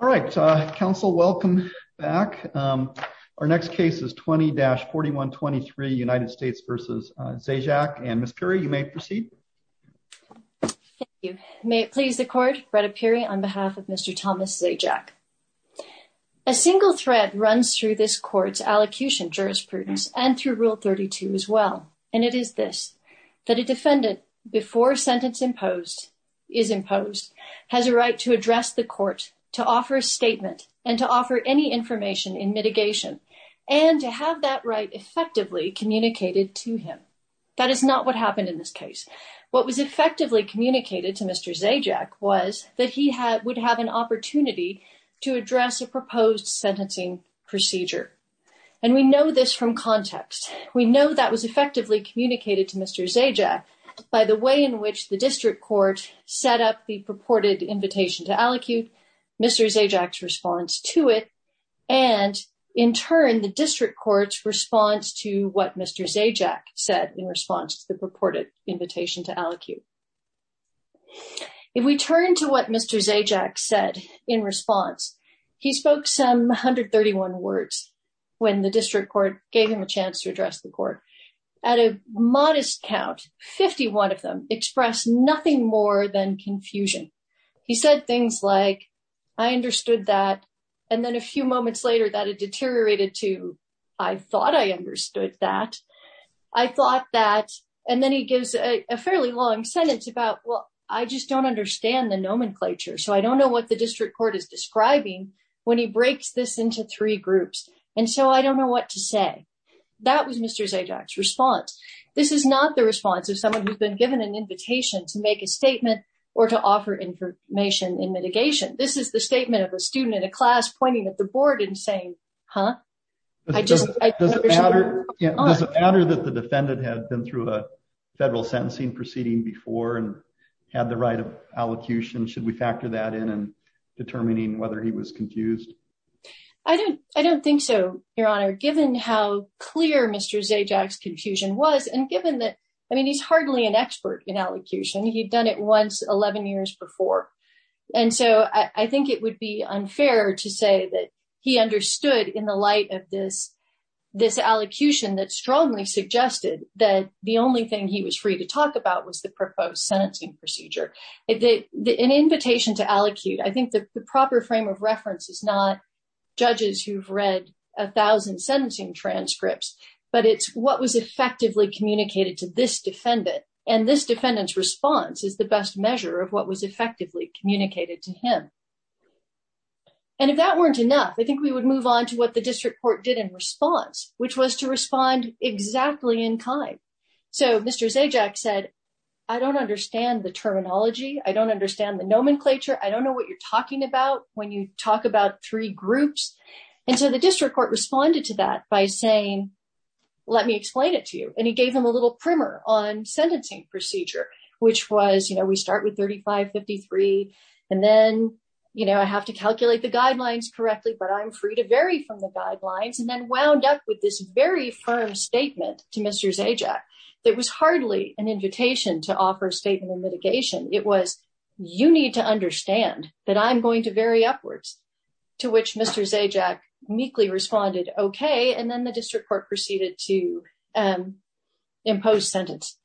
All right, Council, welcome back. Our next case is 20-4123, United States v. Zajac, and Ms. Pirrie, you may proceed. Thank you. May it please the Court, Bretta Pirrie on behalf of Mr. Thomas Zajac. A single threat runs through this Court's allocution jurisprudence and through Rule 32 as well, and it is this, that a defendant, before a sentence is imposed, has a right to address the Court, to offer a statement, and to offer any information in mitigation, and to have that right effectively communicated to him. That is not what happened in this case. What was effectively communicated to Mr. Zajac was that he would have an opportunity to address a proposed sentencing procedure. And we know this from context. We know that was effectively communicated to Mr. Zajac by the way in which the District Court set up the purported invitation to allocute, Mr. Zajac's response to it, and in turn, the District Court's response to what Mr. Zajac said in response to the purported invitation to allocute. If we turn to what Mr. Zajac said in response, he spoke some 131 words when the District Court gave him a chance to address the Court. At a modest count, 51 of them expressed nothing more than confusion. He said things like, I understood that, and then a few moments later that it deteriorated to, I thought I understood that. I thought that, and then he gives a fairly long sentence about, well, I just don't understand the nomenclature, so I don't know what the District Court is describing when he breaks this into three groups, and so I don't know what to say. That was Mr. Zajac's response. This is not the response of someone who's been given an invitation to make a statement or to offer information in mitigation. This is the statement of a student in a class pointing at the board and saying, huh? Does it matter that the defendant had been through a federal sentencing proceeding before and had the right of allocution? Should we factor that in in determining whether he was confused? I don't think so, Your Honor, given how clear Mr. Zajac's confusion was and given that, I mean, he's hardly an expert in allocution. He'd done it once 11 years before, and so I think it would be unfair to say that he understood in the light of this allocution that strongly suggested that the only thing he was free to talk about was the proposed sentencing procedure. An invitation to allocute, I think the proper frame of reference is not judges who've read a thousand sentencing transcripts, but it's what was effectively communicated to this defendant, and this defendant's response is the best measure of what was effectively communicated to him. And if that weren't enough, I think we would move on to what the District Court did in response, which was to respond exactly in kind. So Mr. Zajac said, I don't understand the terminology. I don't understand the nomenclature. I don't know what you're talking about when you talk about three groups. And so the District Court responded to that by saying, let me explain it to you, and he gave them a little primer on sentencing procedure, which was, you know, we start with 3553, and then, you know, I have to calculate the guidelines correctly, but I'm free to vary from the guidelines, and then wound up with this firm statement to Mr. Zajac that was hardly an invitation to offer statement of mitigation. It was, you need to understand that I'm going to vary upwards, to which Mr. Zajac meekly responded, okay, and then the District Court proceeded to impose sentence.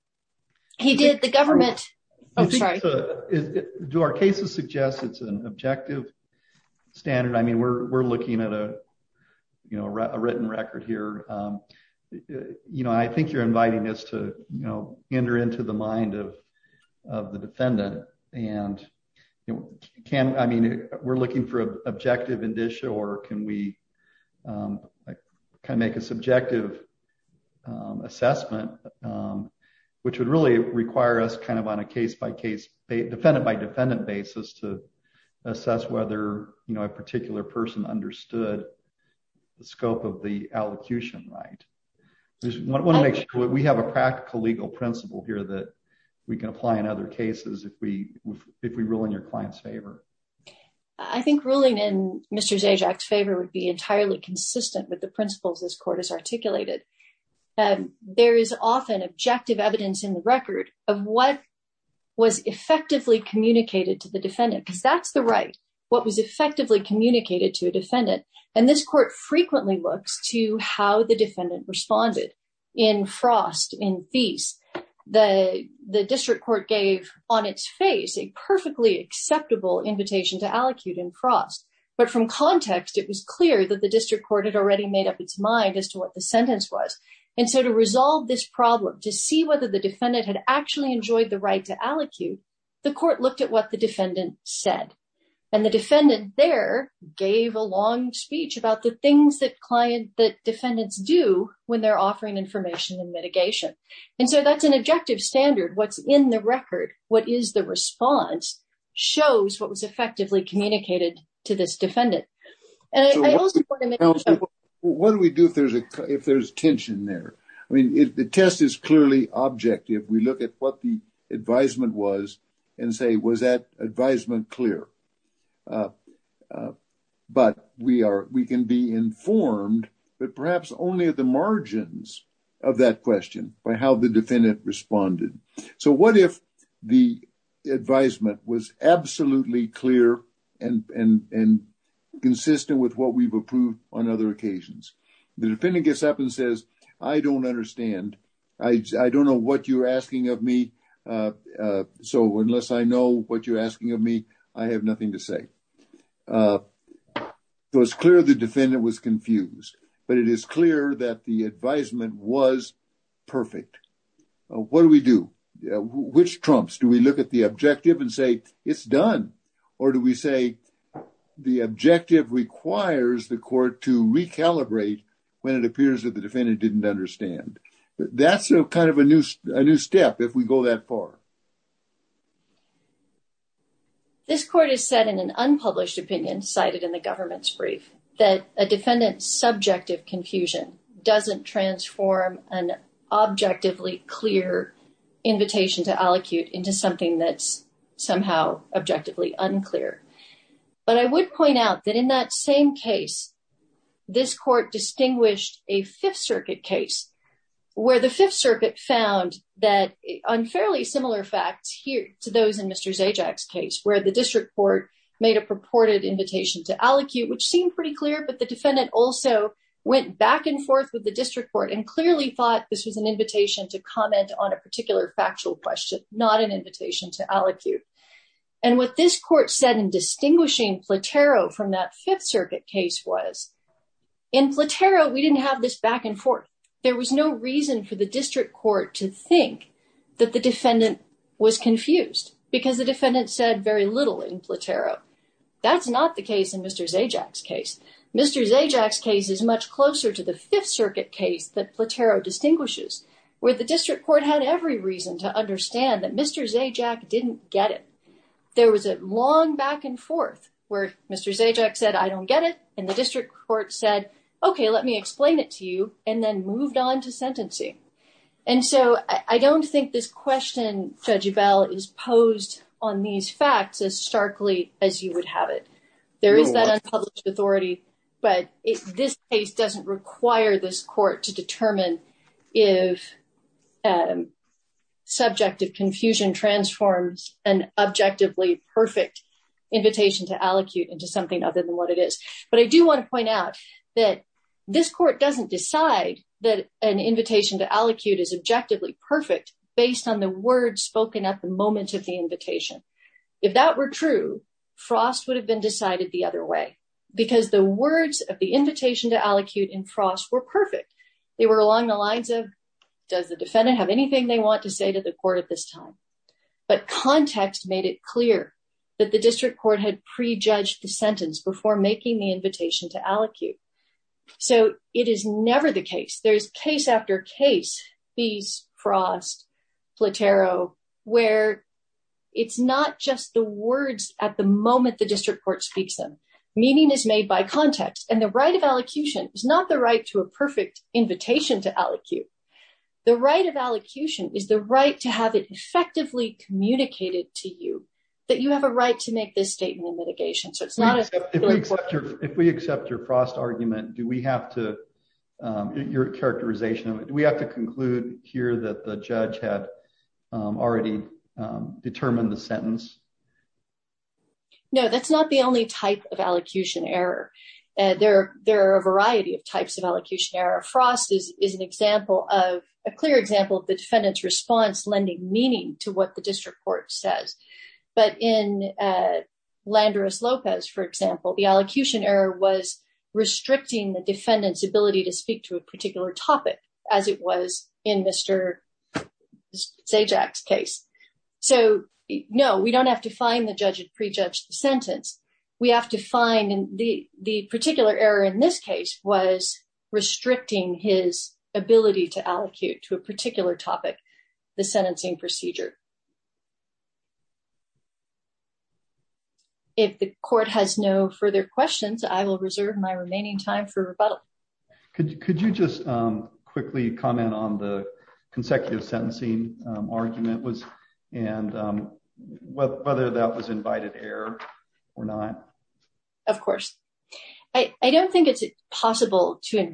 He did the government... Do our cases suggest it's an objective standard? I mean, we're looking at a, you know, a written record here. You know, I think you're inviting us to, you know, enter into the mind of the defendant, and, you know, can, I mean, we're looking for an objective indicia, or can we kind of make a subjective assessment, which would really require us kind of on a case-by-case, defendant-by-defendant basis to assess whether, you know, a particular person understood the scope of the allocution right. I want to make sure we have a practical legal principle here that we can apply in other cases if we rule in your client's favor. I think ruling in Mr. Zajac's favor would be entirely consistent with the principles this Court has articulated. There is often objective evidence in the record of what was effectively communicated to the defendant, because that's the right, what was effectively communicated to a defendant, and this Court frequently looks to how the defendant responded. In Frost, in Feast, the District Court gave on its face a perfectly acceptable invitation to allocute in Frost, but from context, it was clear that the District Court had already made up its mind as to what the sentence was, and so to resolve this problem, to see whether the defendant had actually enjoyed the right to allocute, the Court looked at what defendant said, and the defendant there gave a long speech about the things that client, that defendants do when they're offering information and mitigation, and so that's an objective standard. What's in the record, what is the response, shows what was effectively communicated to this defendant, and I also want to make sure... What do we do if there's a, if there's tension there? I mean, if the test is clearly objective, we look at what the advisement was and say, was that advisement clear? But we are, we can be informed, but perhaps only at the margins of that question, by how the defendant responded. So what if the advisement was absolutely clear and consistent with what we've approved on other occasions? The defendant gets up and says, I don't understand, I don't know what you're asking of me, so unless I know what you're asking of me, I have nothing to say. So it's clear the defendant was confused, but it is clear that the advisement was perfect. What do we do? Which trumps? Do we look at the objective and say, it's done? Or do we say, the objective requires the court to recalibrate when it appears that the defendant didn't understand? That's kind of a new step, if we go that far. This court has said in an unpublished opinion cited in the government's brief, that a defendant's subjective confusion doesn't transform an objectively clear invitation to allocute into something that's somehow objectively unclear. But I would point out that in that same case, this court distinguished a Fifth Circuit case, where the Fifth Circuit found that on fairly similar facts here to those in Mr. Zajac's case, where the district court made a purported invitation to allocute, which seemed pretty clear, but the defendant also went back and forth with the district court and clearly thought this was an invitation to comment on a particular factual question, not an invitation to allocate. And what this court said in distinguishing Platero from that Fifth Circuit case was, in Platero, we didn't have this back and forth. There was no reason for the district court to think that the defendant was confused, because the defendant said very little in Platero. That's not the case in Mr. Zajac's case. Mr. Zajac's case is much closer to the Fifth Circuit case that Platero distinguishes, where the district court had every reason to understand that Mr. Zajac didn't get it. There was a long back and forth, where Mr. Zajac said, I don't get it, and the district court said, okay, let me explain it to you, and then moved on to sentencing. And so I don't think this question, Judge Ebell, is posed on these facts as starkly as you would have it. There is that unpublished authority, but this case doesn't require this court to determine if subjective confusion transforms an objectively perfect invitation to allocate into something other than what it is. But I do want to point out that this court doesn't decide that an invitation to allocate is objectively perfect based on the words spoken at the moment of the invitation. If that were true, Frost would have been decided the other way, because the words of the invitation to allocate in Frost were perfect. They were along the lines of, does the defendant have anything they want to say to the court at this time? But context made it clear that the district court had prejudged the sentence before making the invitation to allocate. So it is never the case. There's case after case, these Frost, Platero, where it's not just the words at the moment the district court speaks them. Meaning is made by context, and the right of allocution is not the right to a perfect invitation to allocate. The right of allocution is the right to have it effectively communicated to you that you have a right to make this statement of litigation. If we accept your Frost argument, do we have to, your characterization of it, do we have to conclude here that the judge had already determined the sentence? No, that's not the only type of allocution error. There are a variety of types of allocution error. Frost is an example of, a clear example of the defendant's response lending meaning to what the district court says. But in Landerus-Lopez, for example, the allocution error was restricting the defendant's ability to speak to a particular topic as it was in Mr. Zajac's case. So no, we don't have to find the judge had prejudged the sentence. We have to find the particular error in this case was restricting his ability to speak to a particular topic as it was in Mr. Zajac's case. If the court has no further questions, I will reserve my remaining time for rebuttal. Could you just quickly comment on the consecutive sentencing argument and whether that was invited error or not? Of course. I don't think it's possible to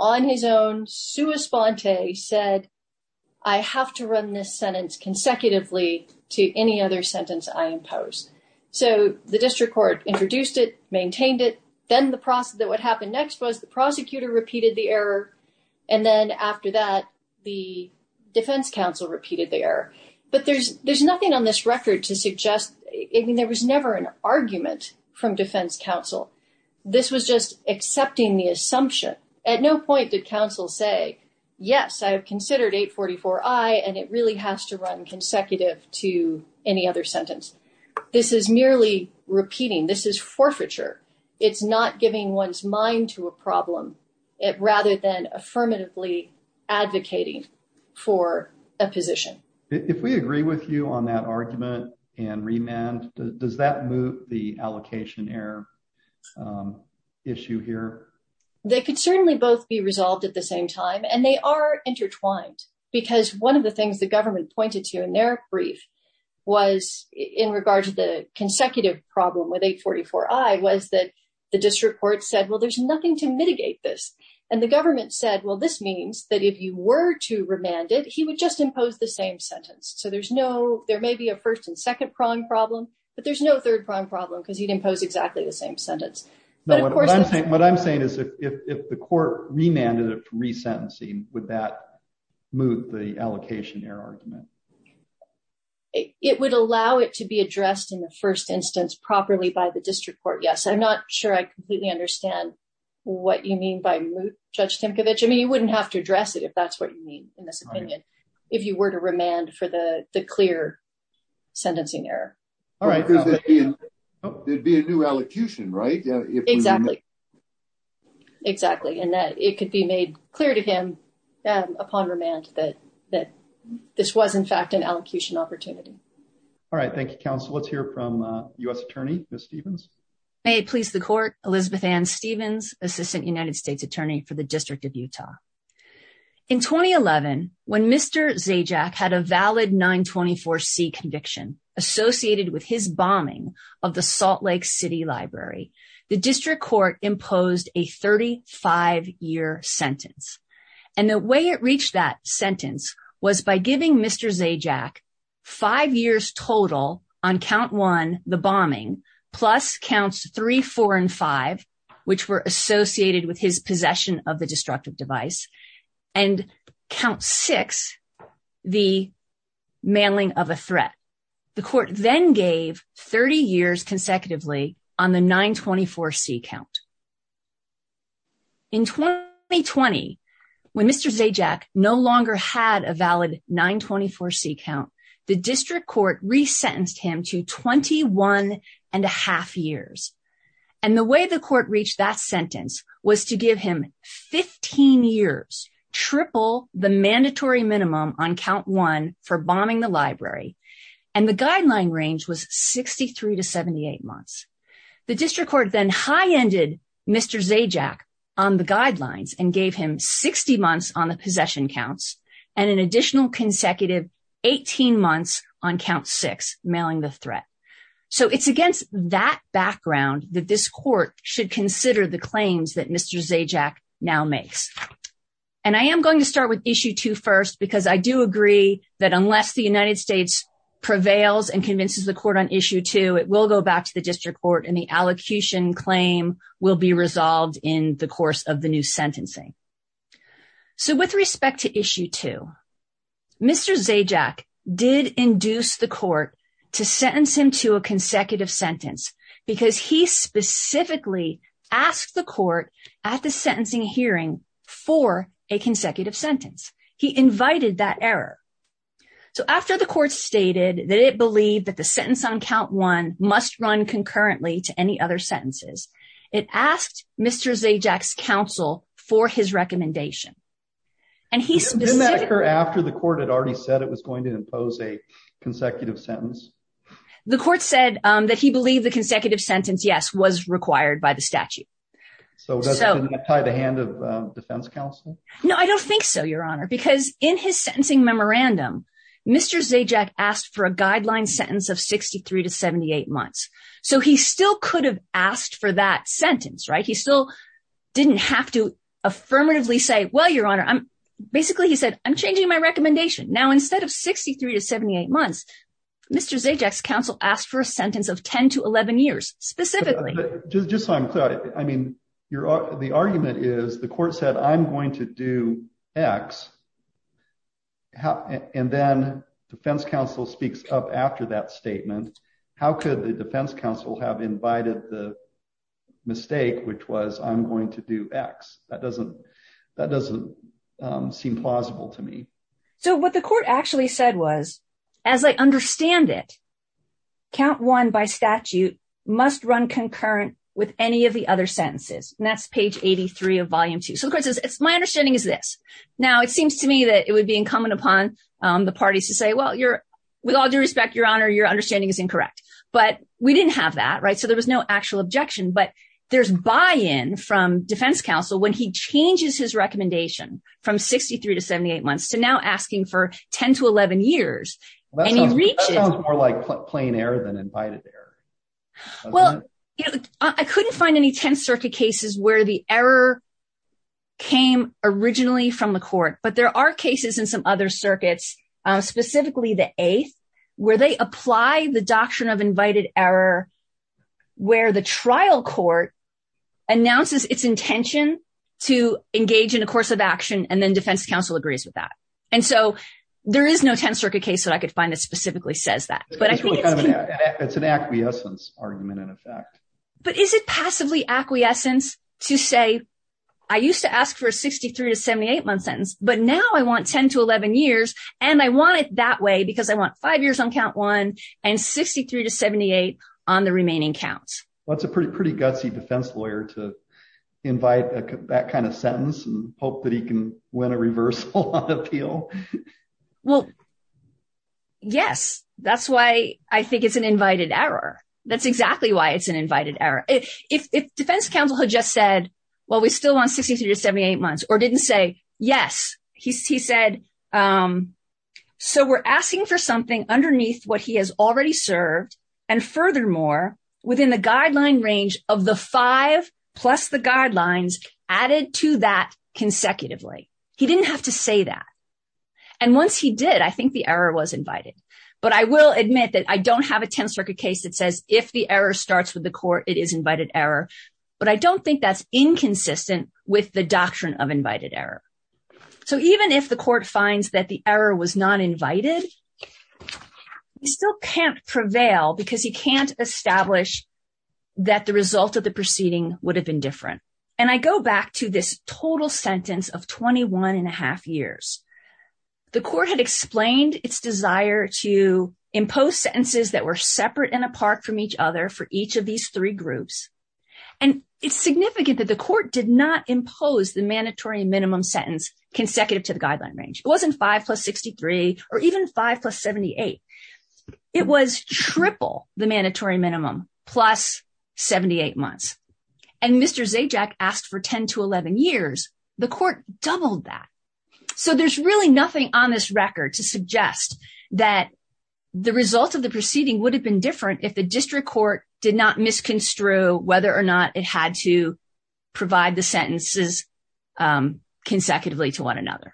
on his own, sua sponte, said, I have to run this sentence consecutively to any other sentence I impose. So the district court introduced it, maintained it. Then what happened next was the prosecutor repeated the error. And then after that, the defense counsel repeated the error. But there's nothing on this record to suggest, I mean, there was never an argument from defense counsel. This was just accepting the assumption. At no point did counsel say, yes, I have considered 844-I and it really has to run consecutive to any other sentence. This is merely repeating. This is forfeiture. It's not giving one's mind to a problem rather than affirmatively advocating for a position. If we agree with you on that argument and remand, does that move the allocation error issue here? They could certainly both be resolved at the same time. And they are intertwined because one of the things the government pointed to in their brief was in regard to the consecutive problem with 844-I was that the district court said, well, there's nothing to mitigate this. And the government said, well, this means that if you were to remand it, he would just impose the same sentence. So there's no, there may be a first and second prong problem, but there's no third prong problem because he'd impose exactly the same sentence. What I'm saying is if the court remanded it for resentencing, would that move the allocation error argument? It would allow it to be addressed in the first instance properly by the district court. Yes. I'm not sure I completely understand what you mean by moot, Judge Timcovich. I mean, you wouldn't have to address it if that's what you mean in this opinion, if you were to remand for the clear sentencing error. There'd be a new allocution, right? Exactly. Exactly. And that it could be made clear to him upon remand that this was in fact an allocution opportunity. All right. Thank you, counsel. Let's hear from a U.S. attorney, Ms. Stevens. May it please the court, Elizabeth Ann Stevens, Assistant United States Attorney for the District of Utah. In 2011, when Mr. Zajack had a valid 924C conviction associated with his bombing of the Salt Lake City Library, the district court imposed a 35-year sentence. And the way it reached that sentence was by giving Mr. Zajack five years total on count one, the bombing, plus counts three, four, and five, which were associated with his possession of the destructive device, and count six, the mailing of a threat. The court then gave 30 years consecutively on the 924C count. In 2020, when Mr. Zajack no longer had a valid 924C count, the district court resentenced him to 21 and a half years. And the way the court reached that sentence was to give him 15 years, triple the mandatory minimum on count one for bombing the library. And the guideline range was 63 to 78 months. The district court then high-ended Mr. Zajack on the guidelines and gave him 60 months on the possession counts and an additional consecutive 18 months on count six, mailing the threat. So it's against that background that this court should consider the claims that Mr. Zajack now makes. And I am going to start with issue two first because I do agree that unless the United States prevails and convinces the court on issue two, it will go back to the district court and the allocution claim will be resolved in the course of the new sentencing. So with respect to issue two, Mr. Zajack did induce the court to sentence him to a consecutive sentence because he specifically asked the court at the sentencing hearing for a consecutive sentence. He invited that error. So after the court stated that it believed that the sentence on count one must run concurrently to any other sentences, it asked Mr. Zajack's counsel for his recommendation. And he specifically- Didn't that occur after the court had already said it was going to impose a consecutive sentence? The court said that he believed the consecutive sentence, yes, was required by the statute. So doesn't that tie the hand of defense counsel? No, I don't think so, Your Honor, because in his sentencing memorandum, Mr. Zajack asked for a guideline sentence of 63 to 78 months. So he still could have asked for that sentence, right? He still didn't have to affirmatively say, well, Your Honor, basically he said, I'm changing my recommendation. Now, instead of 63 to 78 months, Mr. Zajack's counsel asked for a sentence of 10 to 11 years specifically. Just so I'm clear, I mean, the argument is the court said, I'm going to do X. And then defense counsel speaks up after that statement. How could the defense counsel have invited the mistake, which was, I'm going to do X? That doesn't seem plausible to me. So what the court actually said was, as I understand it, count one by statute must run concurrent with any of the other sentences. And that's page 83 of volume two. So the court says, my understanding is this. Now, it seems to me that it would be incumbent upon the parties to say, well, with all due respect, Your Honor, your understanding is incorrect. But we didn't have that, right? So there was no actual objection. But there's buy-in from defense counsel when he changes his recommendation from 63 to 78 months to now asking for 10 to 11 years. And he's reached it. That sounds more like plain error than invited error. Well, I couldn't find any 10th Circuit cases where the error came originally from the court. But there are cases in some other circuits, specifically the eighth, where they apply the doctrine of invited error, where the trial court announces its intention to engage in a course of action, and then defense counsel agrees with that. And so there is no 10th Circuit case that I could find that specifically says that. It's an acquiescence argument, in effect. But is it passively acquiescence to say, I used to ask for a 63 to 78 month sentence, but now I want 10 to 11 years, and I want it that way because I want five years on count one and 63 to 78 on the remaining counts? Well, it's a pretty gutsy defense lawyer to invite that kind of sentence and hope that he can win a reversal on appeal. Well, yes. That's why I think it's an invited error. That's exactly why it's an invited error. If defense counsel had just said, well, we still want 63 to 78 months or didn't say, yes, he said, so we're asking for something underneath what he has already served. And furthermore, within the guideline range of the five plus the guidelines added to that consecutively. He didn't have to say that. And once he did, I think the error was invited. But I will admit that I don't have a 10th Circuit case that says if the error starts with the court, it is invited error. But I don't think that's inconsistent with the doctrine of invited error. So even if the court finds that the error was not invited, he still can't prevail because he can't establish that the result of the proceeding would have been different. And I go back to this total sentence of 21 and a half years. The court had explained its desire to impose sentences that were separate and apart from each other for each of these three groups. And it's significant that the court did not impose the mandatory minimum sentence consecutive to the guideline range. It wasn't five plus 63 or even five plus 78. It was triple the mandatory minimum plus 78 months. And Mr. Zajac asked for 10 to 11 years. The court doubled that. So there's really nothing on this record to suggest that the result of the proceeding would have been different if the district court did not misconstrue whether or not it had to provide the sentences consecutively to one another.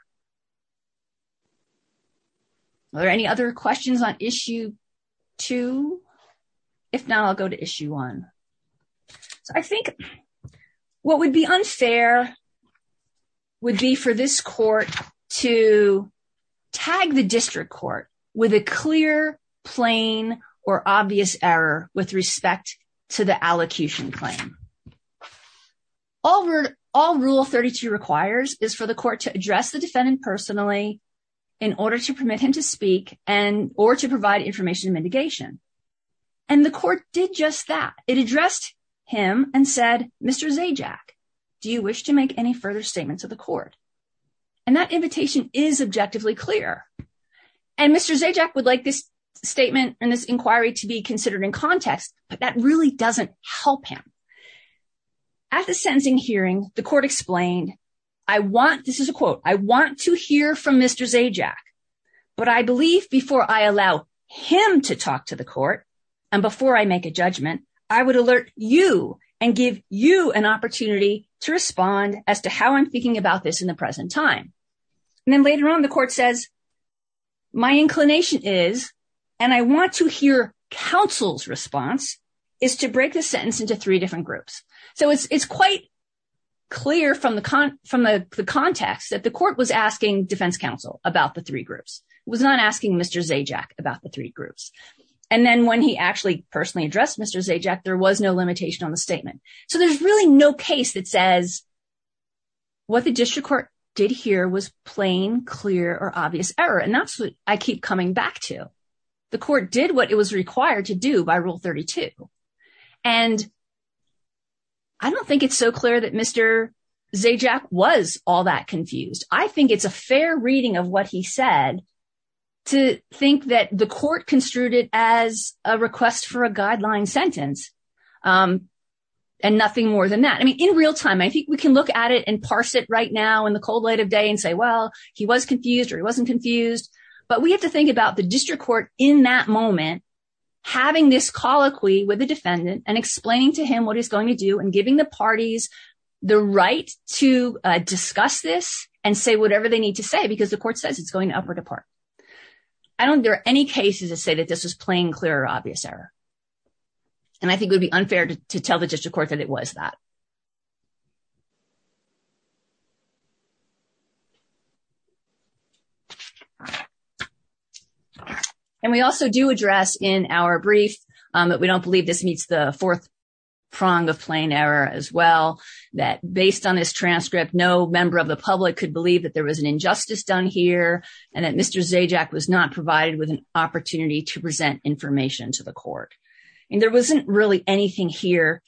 Are there any other questions on issue two? If not, I'll go to issue one. So I think what would be unfair would be for this court to tag the district court with clear, plain, or obvious error with respect to the allocution claim. All rule 32 requires is for the court to address the defendant personally in order to permit him to speak and or to provide information mitigation. And the court did just that. It addressed him and said, Mr. Zajac, do you wish to make any further statement to the court? And that invitation is objectively clear. And Mr. Zajac would like this statement and this inquiry to be considered in context, but that really doesn't help him. At the sentencing hearing, the court explained, I want, this is a quote, I want to hear from Mr. Zajac, but I believe before I allow him to talk to the court, and before I make a judgment, I would alert you and give you an opportunity to respond as to how I'm thinking about this in the present time. And then later on, the court says, my inclination is, and I want to hear counsel's response, is to break the sentence into three different groups. So it's quite clear from the context that the court was asking defense counsel about the three groups, was not asking Mr. Zajac about the three groups. And then when he actually personally addressed Mr. Zajac, there was no limitation on the statement. So there's really no case that says what the district court did here was plain, clear, or obvious error. And that's what I keep coming back to. The court did what it was required to do by Rule 32. And I don't think it's so clear that Mr. Zajac was all that confused. I think it's a fair reading of what he said to think that the court construed it as a request for a guideline sentence. And nothing more than that. I mean, in real time, I think we can look at it and parse it right now in the cold light of day and say, well, he was confused or he wasn't confused. But we have to think about the district court in that moment, having this colloquy with the defendant and explaining to him what he's going to do and giving the parties the right to discuss this and say whatever they need to say, because the court says it's going to up or depart. I don't think there are any cases that say that this was plain, clear, or obvious error. And I think it would be unfair to tell the district court that it was that. And we also do address in our brief that we don't believe this meets the fourth prong of plain error as well, that based on this transcript, no member of the public could believe that there was an injustice done here and that Mr. Zajac was not provided with an opportunity to present information to the court. And there wasn't really anything here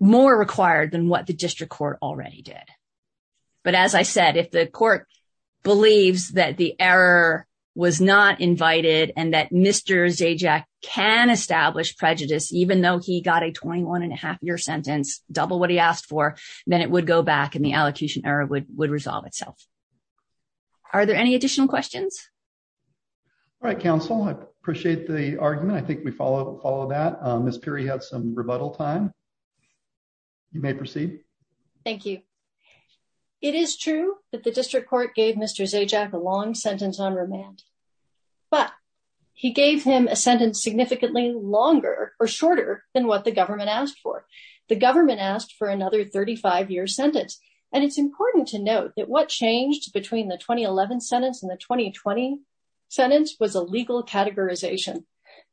more required than what the district court already did. But as I said, if the court believes that the error was not invited and that Mr. Zajac can establish prejudice, even though he got a 21 and a half year sentence, double what he asked for, then it would go back and the allocution error would resolve itself. Are there any additional questions? All right, counsel. I appreciate the argument. I think we follow that. Ms. Peery had some rebuttal time. You may proceed. Thank you. It is true that the district court gave Mr. Zajac a long sentence on remand, but he gave him a sentence significantly longer or shorter than what the government asked for. The government asked for another 35 year sentence. And it's important to note that what changed between the 2011 sentence and the 2020 sentence was a legal categorization.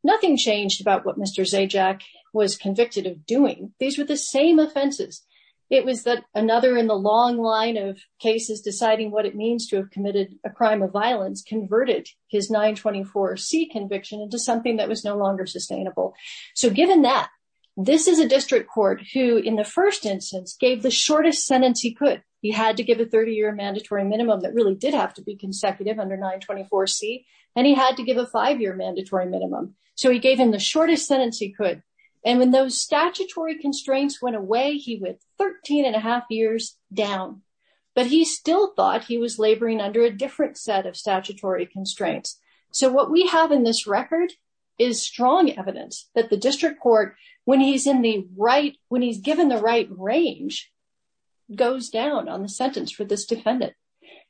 Nothing changed about what Mr. Zajac was convicted of doing. These were the same offenses. It was that another in the long line of cases deciding what it means to have committed a crime of violence converted his 924C conviction into something that was no longer sustainable. So given that, this is a district court who, in the first instance, gave the shortest sentence he could. He had to give a 30 year mandatory minimum that really did have to be consecutive under 924C, and he had to give a five year mandatory minimum. So he gave him the shortest sentence he could. And when those statutory constraints went away, he went 13 and a half years down. But he still thought he was laboring under a different set of statutory constraints. So what we have in this record is strong evidence that the district court, when he's in the right, range goes down on the sentence for this defendant.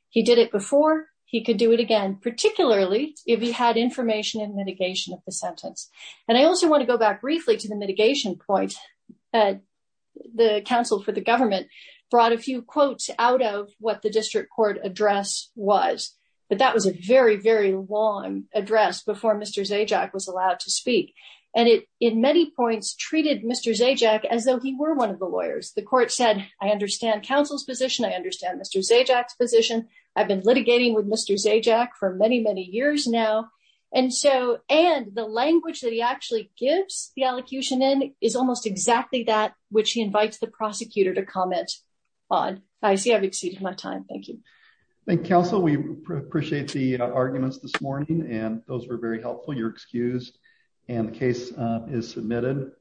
He did it before, he could do it again, particularly if he had information and mitigation of the sentence. And I also want to go back briefly to the mitigation point. The counsel for the government brought a few quotes out of what the district court address was. But that was a very, very long address before Mr. Zajac was allowed to speak. And it, in many points, treated Mr. Zajac as though he were one of the lawyers. The court said, I understand counsel's position. I understand Mr. Zajac's position. I've been litigating with Mr. Zajac for many, many years now. And so, and the language that he actually gives the elocution in is almost exactly that which he invites the prosecutor to comment on. I see I've exceeded my time. Thank you. Thank you, counsel. We appreciate the arguments this and the case is submitted.